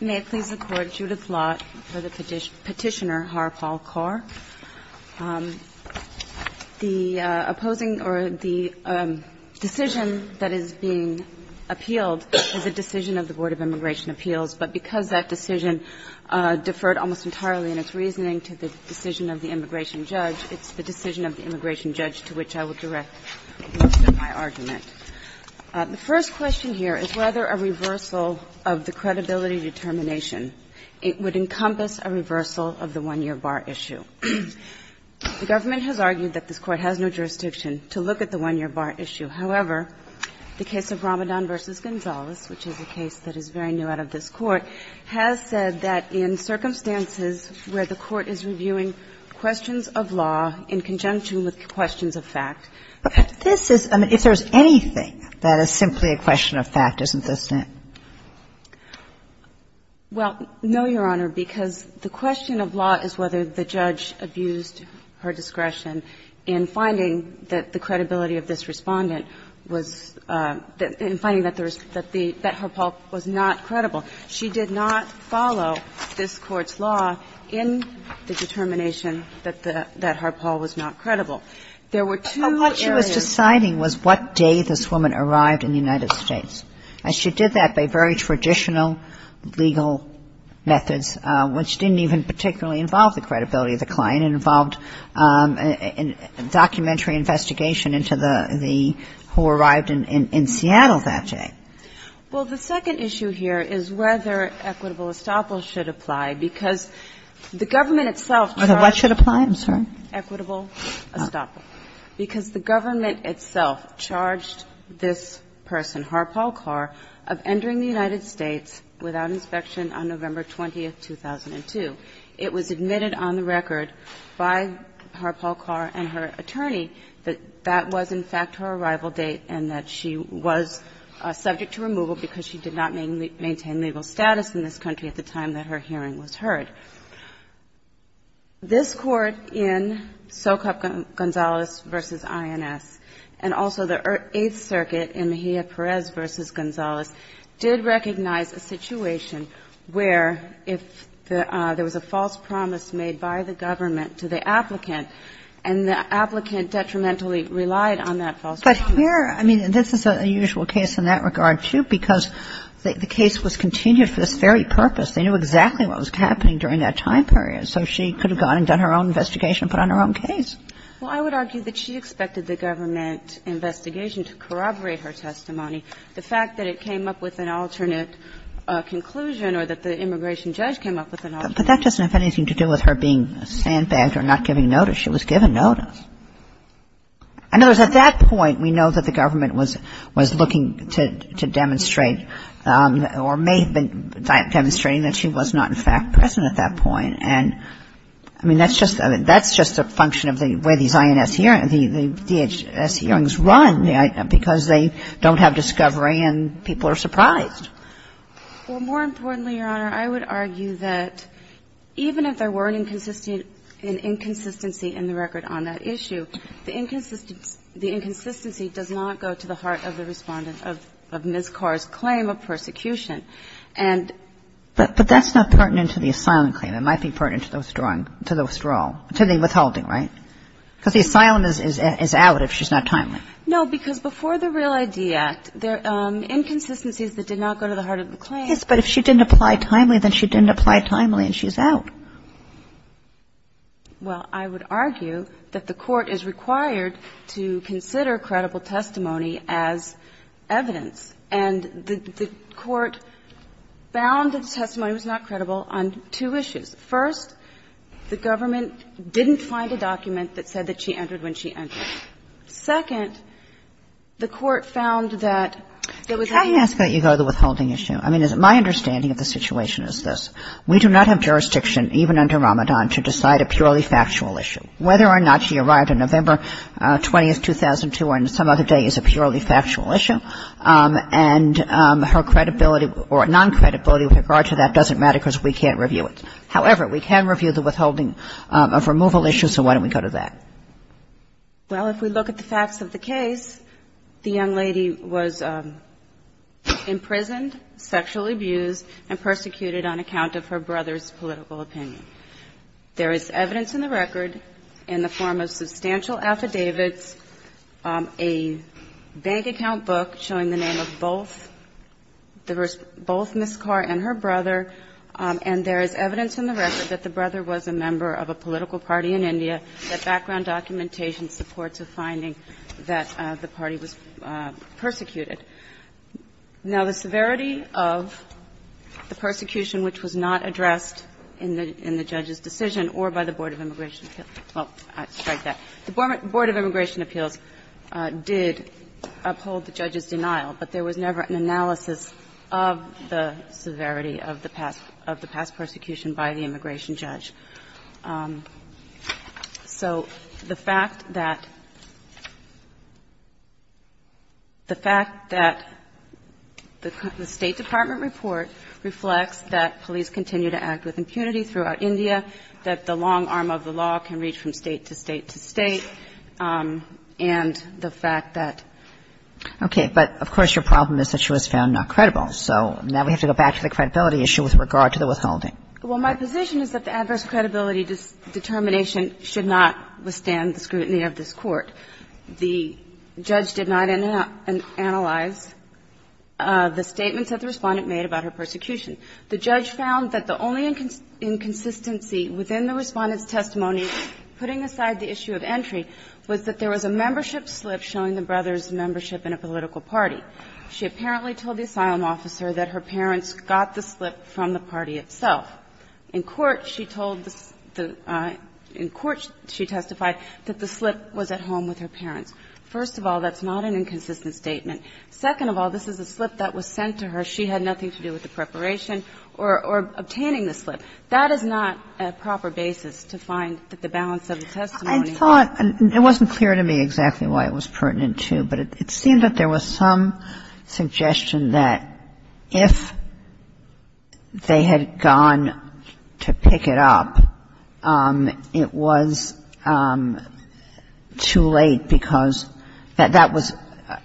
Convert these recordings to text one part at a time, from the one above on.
May it please the Court, Judith Lott for the Petitioner, Harpal Kaur. The opposing or the decision that is being appealed is a decision of the Board of Immigration Appeals, but because that decision deferred almost entirely in its reasoning to the decision of the immigration judge, it's the decision of the immigration judge to which I would like to direct most of my argument. The first question here is whether a reversal of the credibility determination would encompass a reversal of the one-year bar issue. The government has argued that this Court has no jurisdiction to look at the one-year bar issue. However, the case of Ramadan v. Gonzales, which is a case that is very new out of this Court, has said that in circumstances where the Court is reviewing questions of law in conjunction with questions of fact. But this is – I mean, if there's anything that is simply a question of fact, isn't this it? Well, no, Your Honor, because the question of law is whether the judge abused her discretion in finding that the credibility of this Respondent was – in finding that the – that Harpal was not credible. She did not follow this Court's law in the determination that the – that Harpal was not credible. There were two areas of the case that she did not follow. But what she was deciding was what day this woman arrived in the United States. And she did that by very traditional legal methods, which didn't even particularly involve the credibility of the client. It involved a documentary investigation into the – who arrived in Seattle that day. Well, the second issue here is whether equitable estoppel should apply, because the government itself charged – What should apply? I'm sorry. Equitable estoppel. Because the government itself charged this person, Harpal Kaur, of entering the United States without inspection on November 20, 2002. It was admitted on the record by Harpal Kaur and her attorney that that was, in fact, her arrival date and that she was subject to removal because she did not maintain legal status in this country at the time that her hearing was heard. This Court in Socap Gonzalez v. INS and also the Eighth Circuit in Mejia-Perez v. Gonzalez did recognize a situation where if there was a false promise made by the government, it would be a false promise. But here – I mean, this is a usual case in that regard, too, because the case was continued for this very purpose. They knew exactly what was happening during that time period, so she could have gone and done her own investigation and put on her own case. Well, I would argue that she expected the government investigation to corroborate her testimony. The fact that it came up with an alternate conclusion or that the immigration judge came up with an alternate conclusion. But that doesn't have anything to do with her being sandbagged or not giving notice. She was given notice. In other words, at that point, we know that the government was looking to demonstrate or may have been demonstrating that she was not, in fact, present at that point. And, I mean, that's just a function of the way these INS hearings, the DHS hearings run, because they don't have discovery and people are surprised. Well, more importantly, Your Honor, I would argue that even if there were an inconsistency in the record on that issue, the inconsistency does not go to the heart of the Respondent of Ms. Carr's claim of persecution. And the ---- But that's not pertinent to the asylum claim. It might be pertinent to the withdrawal, to the withholding, right? Because the asylum is out if she's not timely. No, because before the Real ID Act, there are inconsistencies that did not go to the heart of the claim. Yes, but if she didn't apply timely, then she didn't apply timely and she's out. Well, I would argue that the Court is required to consider credible testimony as evidence. And the Court found that the testimony was not credible on two issues. First, the government didn't find a document that said that she entered when she entered. Second, the Court found that there was a ---- Try to ask that you go to the withholding issue. I mean, my understanding of the situation is this. We do not have jurisdiction, even under Ramadan, to decide a purely factual issue. Whether or not she arrived on November 20, 2002 or on some other day is a purely factual issue. And her credibility or non-credibility with regard to that doesn't matter because we can't review it. However, we can review the withholding of removal issues, so why don't we go to that? Well, if we look at the facts of the case, the young lady was imprisoned, sexually abused, and persecuted on account of her brother's political opinion. There is evidence in the record in the form of substantial affidavits, a bank account book showing the name of both the ---- both Ms. Carr and her brother. And there is evidence in the record that the brother was a member of a political party in India that background documentation supports a finding that the party was persecuted. Now, the severity of the persecution which was not addressed in the judge's decision or by the Board of Immigration Appeals ---- well, I'll strike that. The Board of Immigration Appeals did uphold the judge's denial, but there was never an analysis of the severity of the past persecution by the immigration judge. So the fact that the fact that the State Department report reflects that police continue to act with impunity throughout India, that the long arm of the law can reach from State to State to State, and the fact that ---- Okay. But of course, your problem is that she was found not credible. So now we have to go back to the credibility issue with regard to the withholding. Well, my position is that the adverse credibility determination should not withstand the scrutiny of this Court. The judge did not analyze the statements that the Respondent made about her persecution. The judge found that the only inconsistency within the Respondent's testimony putting aside the issue of entry was that there was a membership slip showing the brother's membership in a political party. She apparently told the asylum officer that her parents got the slip from the party itself. In court, she told the ---- in court, she testified that the slip was at home with her parents. First of all, that's not an inconsistent statement. Second of all, this is a slip that was sent to her. She had nothing to do with the preparation or obtaining the slip. That is not a proper basis to find that the balance of the testimony was ---- I thought ---- and it wasn't clear to me exactly why it was pertinent to, but it seemed that there was some suggestion that if they had gone to pick it up, it was too late because that was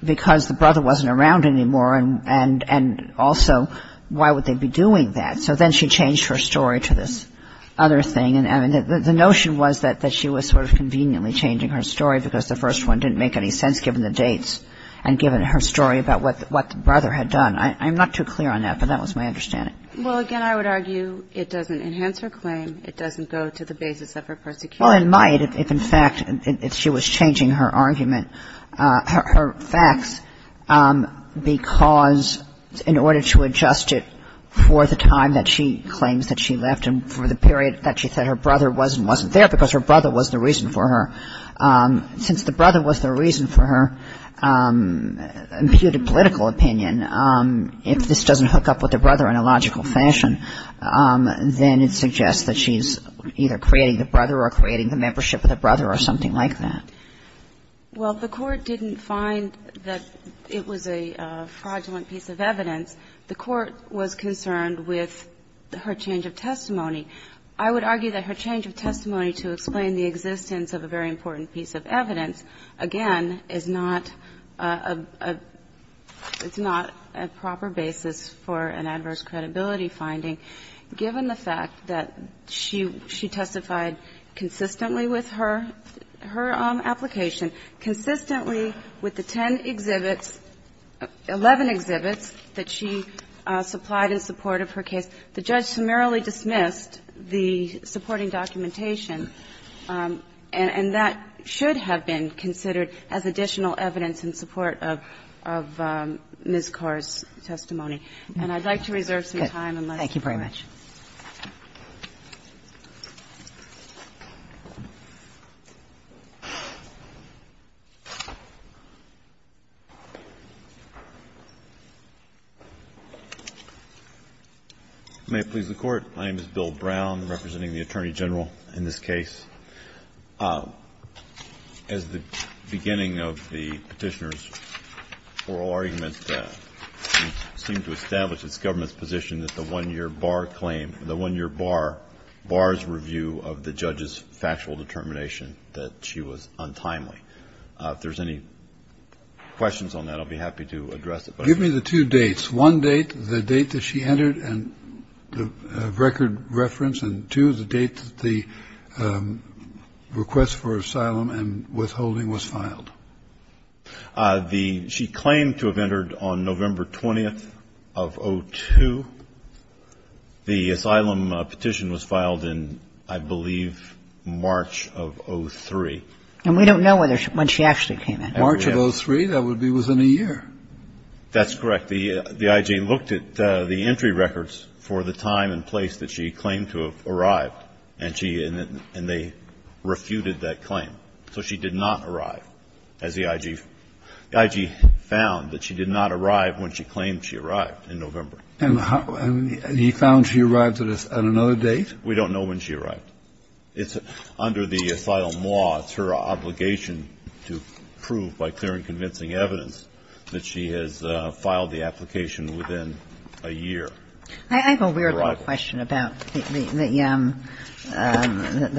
because the brother wasn't around anymore, and also why would they be doing that. So then she changed her story to this other thing. And the notion was that she was sort of conveniently changing her story because the first one didn't make any sense given the dates and given her story about what the brother had done. I'm not too clear on that, but that was my understanding. Well, again, I would argue it doesn't enhance her claim. It doesn't go to the basis of her persecution. Well, it might if in fact she was changing her argument, her facts, because in order to adjust it for the time that she claims that she left and for the period that she said her brother was and wasn't there because her brother was the reason for her, since the brother was the reason for her imputed political opinion, if this doesn't hook up with the brother in a logical fashion, then it suggests that she's either creating the brother or creating the membership of the brother or something like that. Well, the Court didn't find that it was a fraudulent piece of evidence. The Court was concerned with her change of testimony. I would argue that her change of testimony to explain the existence of a very important piece of evidence, again, is not a proper basis for an adverse credibility finding, given the fact that she testified consistently with her application, consistently with the 10 exhibits, 11 exhibits that she supplied in support of her case, the judge summarily dismissed the supporting documentation. And that should have been considered as additional evidence in support of Ms. Carr's testimony. And I'd like to reserve some time unless you want to comment. Thank you very much. May it please the Court. My name is Bill Brown, representing the Attorney General in this case. As the beginning of the petitioner's oral argument, we seem to establish it's government's position that the one-year bar claim, the one-year bar, bar's review of the judge's factual determination that she was untimely. If there's any questions on that, I'll be happy to address it. Give me the two dates. One date, the date that she entered and the record reference, and two, the date that the request for asylum and withholding was filed. She claimed to have entered on November 20th of 2002. The asylum petition was filed in, I believe, March of 2003. And we don't know when she actually came in. March of 2003, that would be within a year. That's correct. The IG looked at the entry records for the time and place that she claimed to have arrived, and she and they refuted that claim. So she did not arrive, as the IG found, that she did not arrive when she claimed she arrived in November. And he found she arrived at another date? We don't know when she arrived. It's under the asylum law, it's her obligation to prove by clear and convincing evidence that she has filed the application within a year. I have a weird little question about the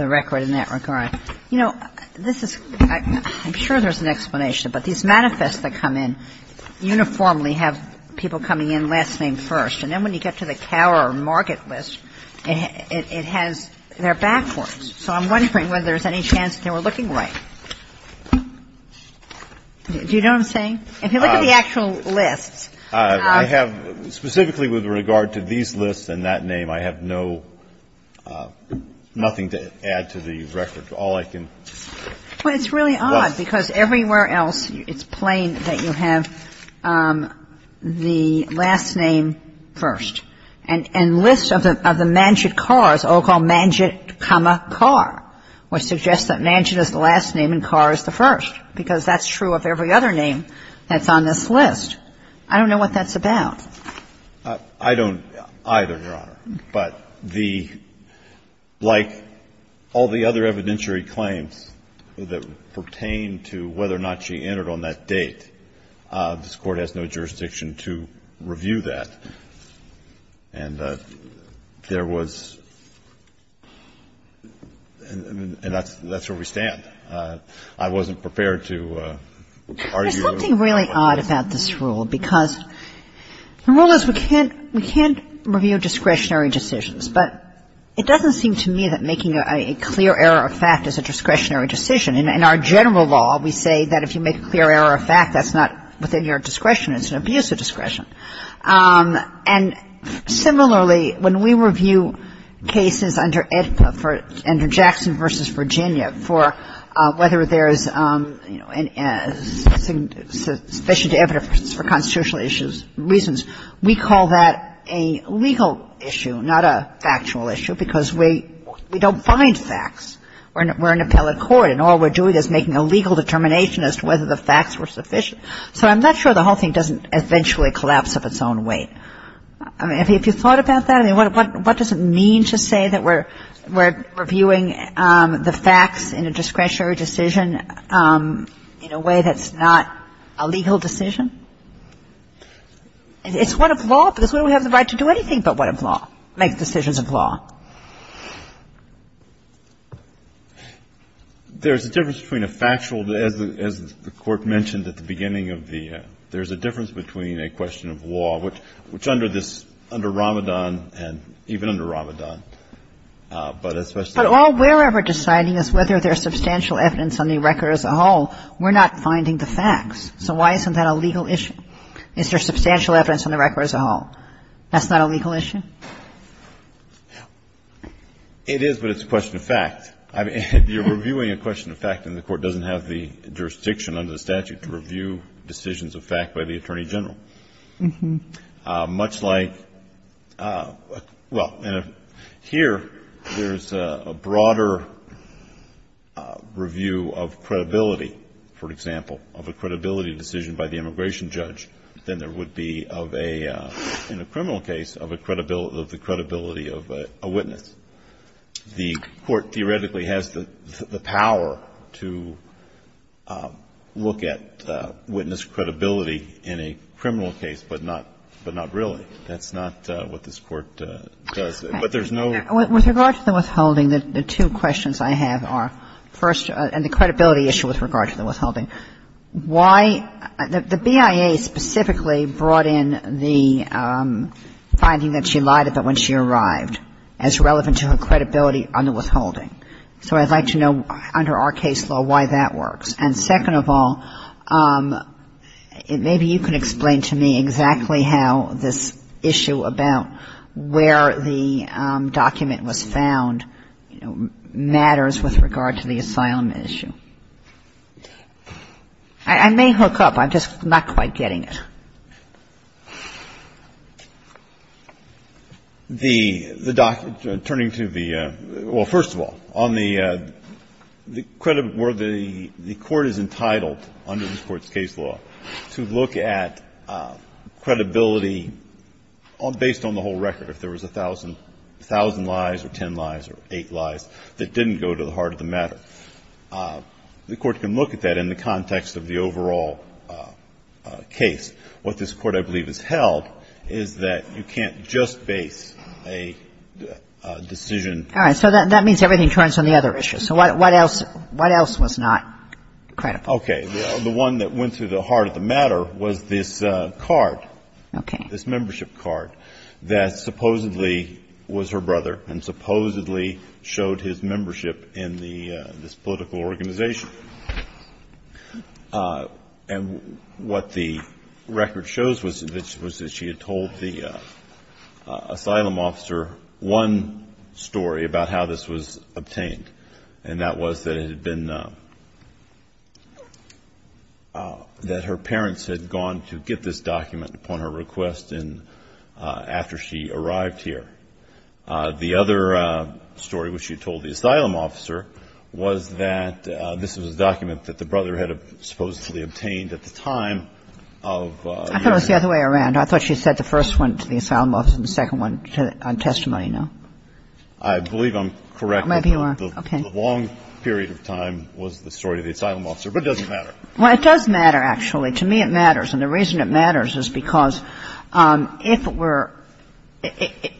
record in that regard. You know, this is – I'm sure there's an explanation, but these manifests that come in uniformly have people coming in last name first, and then when you get to the cower or market list, it has – they're backwards. So I'm wondering whether there's any chance they were looking right. Do you know what I'm saying? If you look at the actual lists. I have – specifically with regard to these lists and that name, I have no – nothing to add to the record. All I can – Well, it's really odd, because everywhere else it's plain that you have the last name first. And lists of the mansion cars, all called mansion, comma, car, would suggest that mansion is the last name and car is the first, because that's true of every other name that's on this list. I don't know what that's about. I don't either, Your Honor. But the – like all the other evidentiary claims that pertain to whether or not she entered on that date, this Court has no jurisdiction to review that. And there was – and that's where we stand. I wasn't prepared to argue. There's something really odd about this rule, because the rule is we can't review discretionary decisions. But it doesn't seem to me that making a clear error of fact is a discretionary decision. In our general law, we say that if you make a clear error of fact, that's not within your discretion. It's an abuse of discretion. And similarly, when we review cases under EDPA, under Jackson v. Virginia, for whether there's sufficient evidence for constitutional reasons, we call that a legal issue, not a factual issue, because we don't find facts. We're an appellate court, and all we're doing is making a legal determination as to whether the facts were sufficient. So I'm not sure the whole thing doesn't eventually collapse of its own weight. I mean, have you thought about that? I mean, what does it mean to say that we're reviewing the facts in a discretionary decision in a way that's not a legal decision? It's what of law, because we don't have the right to do anything but what of law, make decisions of law. There's a difference between a factual, as the Court mentioned at the beginning of the ‑‑ there's a difference between a question of law, which under this, under Ramadan and even under Ramadan, but especially ‑‑ But all we're ever deciding is whether there's substantial evidence on the record as a whole. We're not finding the facts. So why isn't that a legal issue? Is there substantial evidence on the record as a whole? That's not a legal issue? It is, but it's a question of fact. You're reviewing a question of fact, and the Court doesn't have the jurisdiction under the statute to review decisions of fact by the Attorney General. Much like ‑‑ well, here, there's a broader review of credibility, for example, of a credibility decision by the immigration judge than there would be of a, in a criminal case, of a credibility ‑‑ of the credibility of a witness. The Court theoretically has the power to look at witness credibility in a criminal case, but not ‑‑ but not really. That's not what this Court does. But there's no ‑‑ With regard to the withholding, the two questions I have are, first, and the credibility issue with regard to the withholding, why ‑‑ the BIA specifically brought in the finding that she lied about when she arrived as relevant to her credibility on the withholding. So I'd like to know, under our case law, why that works. And second of all, maybe you can explain to me exactly how this issue about where the document was found matters with regard to the asylum issue. I may hook up. I'm just not quite getting it. The document ‑‑ turning to the ‑‑ well, first of all, on the ‑‑ where the court is entitled, under this Court's case law, to look at credibility based on the whole record, if there was 1,000 lies or 10 lies or 8 lies that didn't go to the heart of the matter. The court can look at that in the context of the overall case. What this Court, I believe, has held is that you can't just base a decision on ‑‑ All right. So that means everything turns on the other issue. So what else was not credible? Okay. The one that went to the heart of the matter was this card. Okay. This membership card that supposedly was her brother and supposedly showed his membership in this political organization. And what the record shows was that she had told the asylum officer one story about how this was obtained, and that was that it had been ‑‑ that her parents had gone to get this document upon her request after she arrived here. The other story, which she told the asylum officer, was that this was a document that the brother had supposedly obtained at the time of ‑‑ I thought it was the other way around. I thought she said the first one to the asylum officer and the second one on testimony, no? I believe I'm correct. Maybe you are. Okay. The long period of time was the story of the asylum officer. Well, it does matter, actually. To me, it matters. And the reason it matters is because if we're ‑‑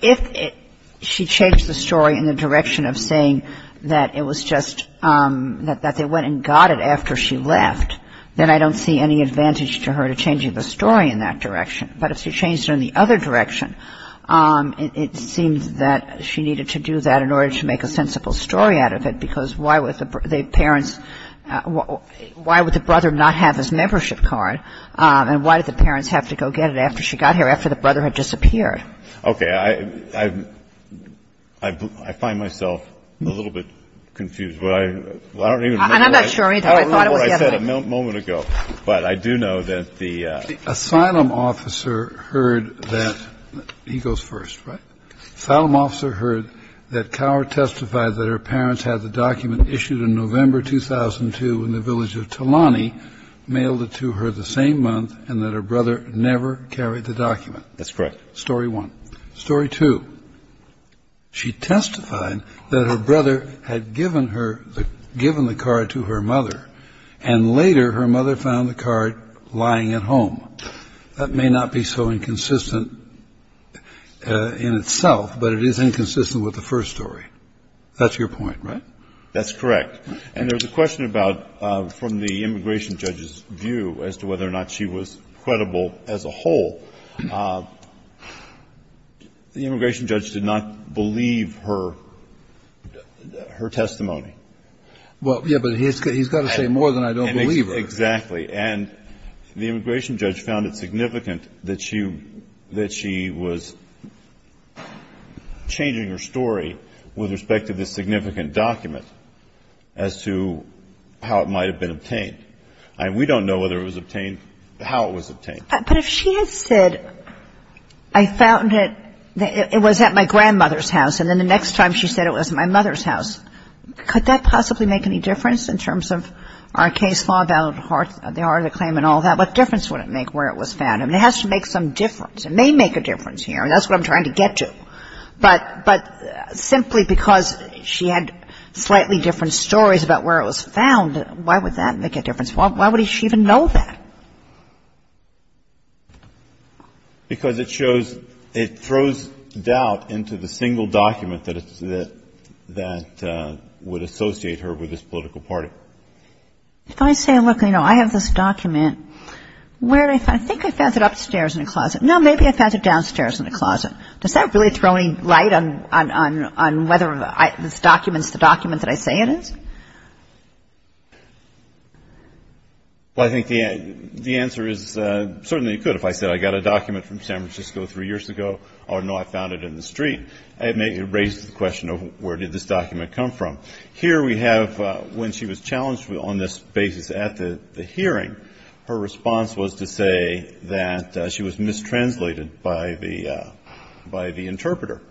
if she changed the story in the direction of saying that it was just ‑‑ that they went and got it after she left, then I don't see any advantage to her to changing the story in that direction. But if she changed it in the other direction, it seems that she needed to do that in order to make a sensible story out of it, because why would the parents ‑‑ why would the parents have to go get it after she got here, after the brother had disappeared? Okay. I find myself a little bit confused. I don't even remember what I said a moment ago. I'm not sure either. I thought it was the other way around. But I do know that the ‑‑ The asylum officer heard that ‑‑ he goes first, right? The asylum officer heard that Cower testified that her parents had the document issued in November 2002 in the village of Talani, mailed it to her the same month, and that her brother never carried the document. That's correct. Story one. Story two. She testified that her brother had given her ‑‑ given the card to her mother, and later her mother found the card lying at home. That may not be so inconsistent in itself, but it is inconsistent with the first story. That's your point, right? That's correct. And there's a question about, from the immigration judge's view as to whether or not she was credible as a whole, the immigration judge did not believe her testimony. Well, yeah, but he's got to say more than I don't believe her. Exactly. And the immigration judge found it significant that she was changing her story with respect to this significant document as to how it might have been obtained. I mean, we don't know whether it was obtained, how it was obtained. But if she had said, I found it, it was at my grandmother's house, and then the next time she said it was at my mother's house, could that possibly make any difference in terms of our case law about the heart of the claim and all that? What difference would it make where it was found? I mean, it has to make some difference. It may make a difference here, and that's what I'm trying to get to. But simply because she had slightly different stories about where it was found, why would that make a difference? Why would she even know that? Because it shows, it throws doubt into the single document that would associate her with this political party. If I say, look, you know, I have this document, where did I find it? I think I found it upstairs in a closet. No, maybe I found it downstairs in a closet. Does that really throw any light on whether this document is the document that I say it is? Well, I think the answer is certainly you could. If I said I got a document from San Francisco three years ago, oh, no, I found it in the street, it may raise the question of where did this document come from. Here we have when she was challenged on this basis at the hearing, her response was to the interpreter.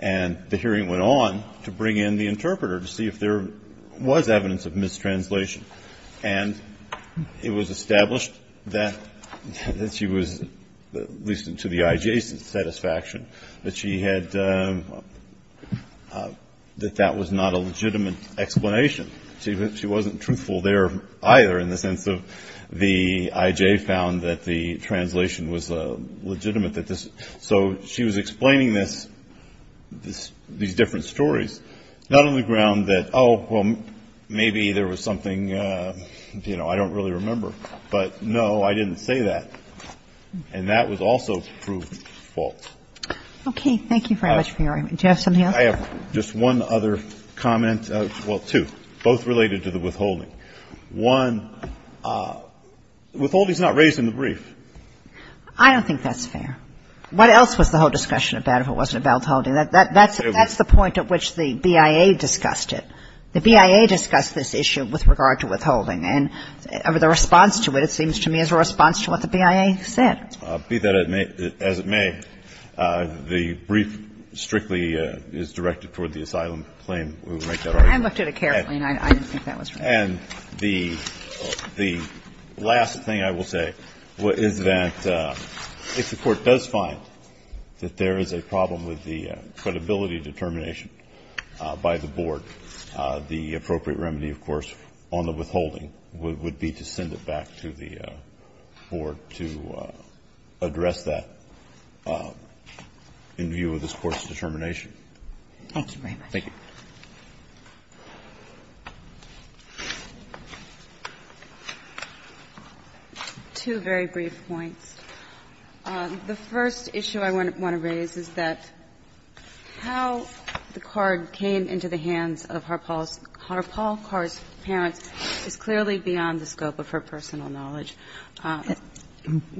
And the hearing went on to bring in the interpreter to see if there was evidence of mistranslation. And it was established that she was, at least to the IJ's satisfaction, that she had, that that was not a legitimate explanation. She wasn't truthful there either in the sense of the IJ found that the translation was legitimate that this, so she was explaining this, these different stories, not on the ground that, oh, well, maybe there was something, you know, I don't really remember. But, no, I didn't say that. And that was also proved false. Okay. Thank you very much for your argument. Do you have something else? I have just one other comment. Well, two, both related to the withholding. One, withholding is not raised in the brief. I don't think that's fair. What else was the whole discussion about if it wasn't about withholding? That's the point at which the BIA discussed it. The BIA discussed this issue with regard to withholding. And the response to it, it seems to me, is a response to what the BIA said. Be that as it may, the brief strictly is directed toward the asylum claim. We will make that argument. I looked at it carefully, and I didn't think that was right. And the last thing I will say is that if the Court does find that there is a problem with the credibility determination by the Board, the appropriate remedy, of course, on the withholding would be to send it back to the Board to address that in view of this Court's determination. Thank you very much. Thank you. Two very brief points. The first issue I want to raise is that how the card came into the hands of Harpaul Carr's parents is clearly beyond the scope of her personal knowledge.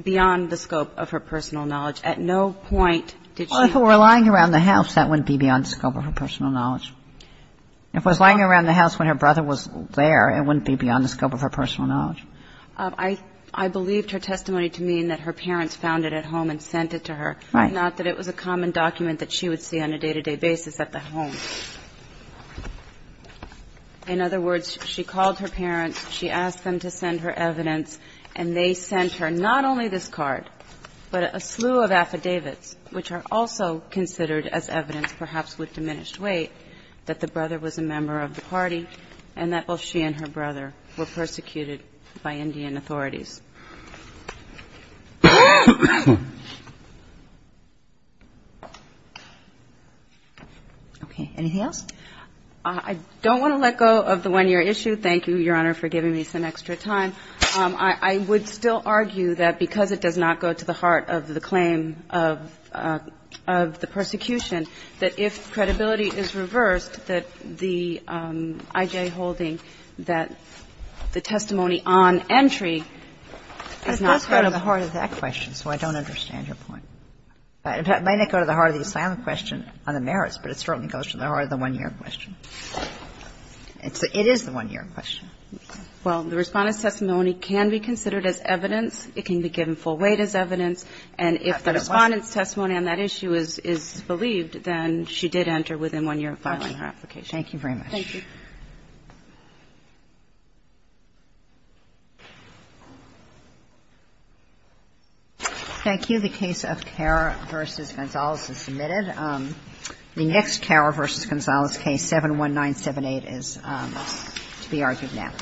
Beyond the scope of her personal knowledge. At no point did she. Well, if it were lying around the house, that wouldn't be beyond the scope of her personal knowledge. If it was lying around the house when her brother was there, it wouldn't be beyond the scope of her personal knowledge. I believed her testimony to mean that her parents found it at home and sent it to her, not that it was a common document that she would see on a day-to-day basis at the home. In other words, she called her parents, she asked them to send her evidence, and they sent her not only this card, but a slew of affidavits, which are also considered as evidence, perhaps with diminished weight, that the brother was a member of the party, and that both she and her brother were persecuted by Indian authorities. Okay. Anything else? I don't want to let go of the one-year issue. Thank you, Your Honor, for giving me some extra time. I would still argue that because it does not go to the heart of the claim of the persecution, that if credibility is reversed, that the IJ holding that the testimony on entry is not credible. It does go to the heart of that question, so I don't understand your point. It might not go to the heart of the asylum question on the merits, but it certainly goes to the heart of the one-year question. It is the one-year question. Well, the Respondent's testimony can be considered as evidence. It can be given full weight as evidence. And if the Respondent's testimony on that issue is believed, then she did enter within one year of filing her application. Thank you very much. Thank you. Thank you. The case of Kerr v. Gonzalez is submitted. The next Kerr v. Gonzalez case, 71978, is to be argued now.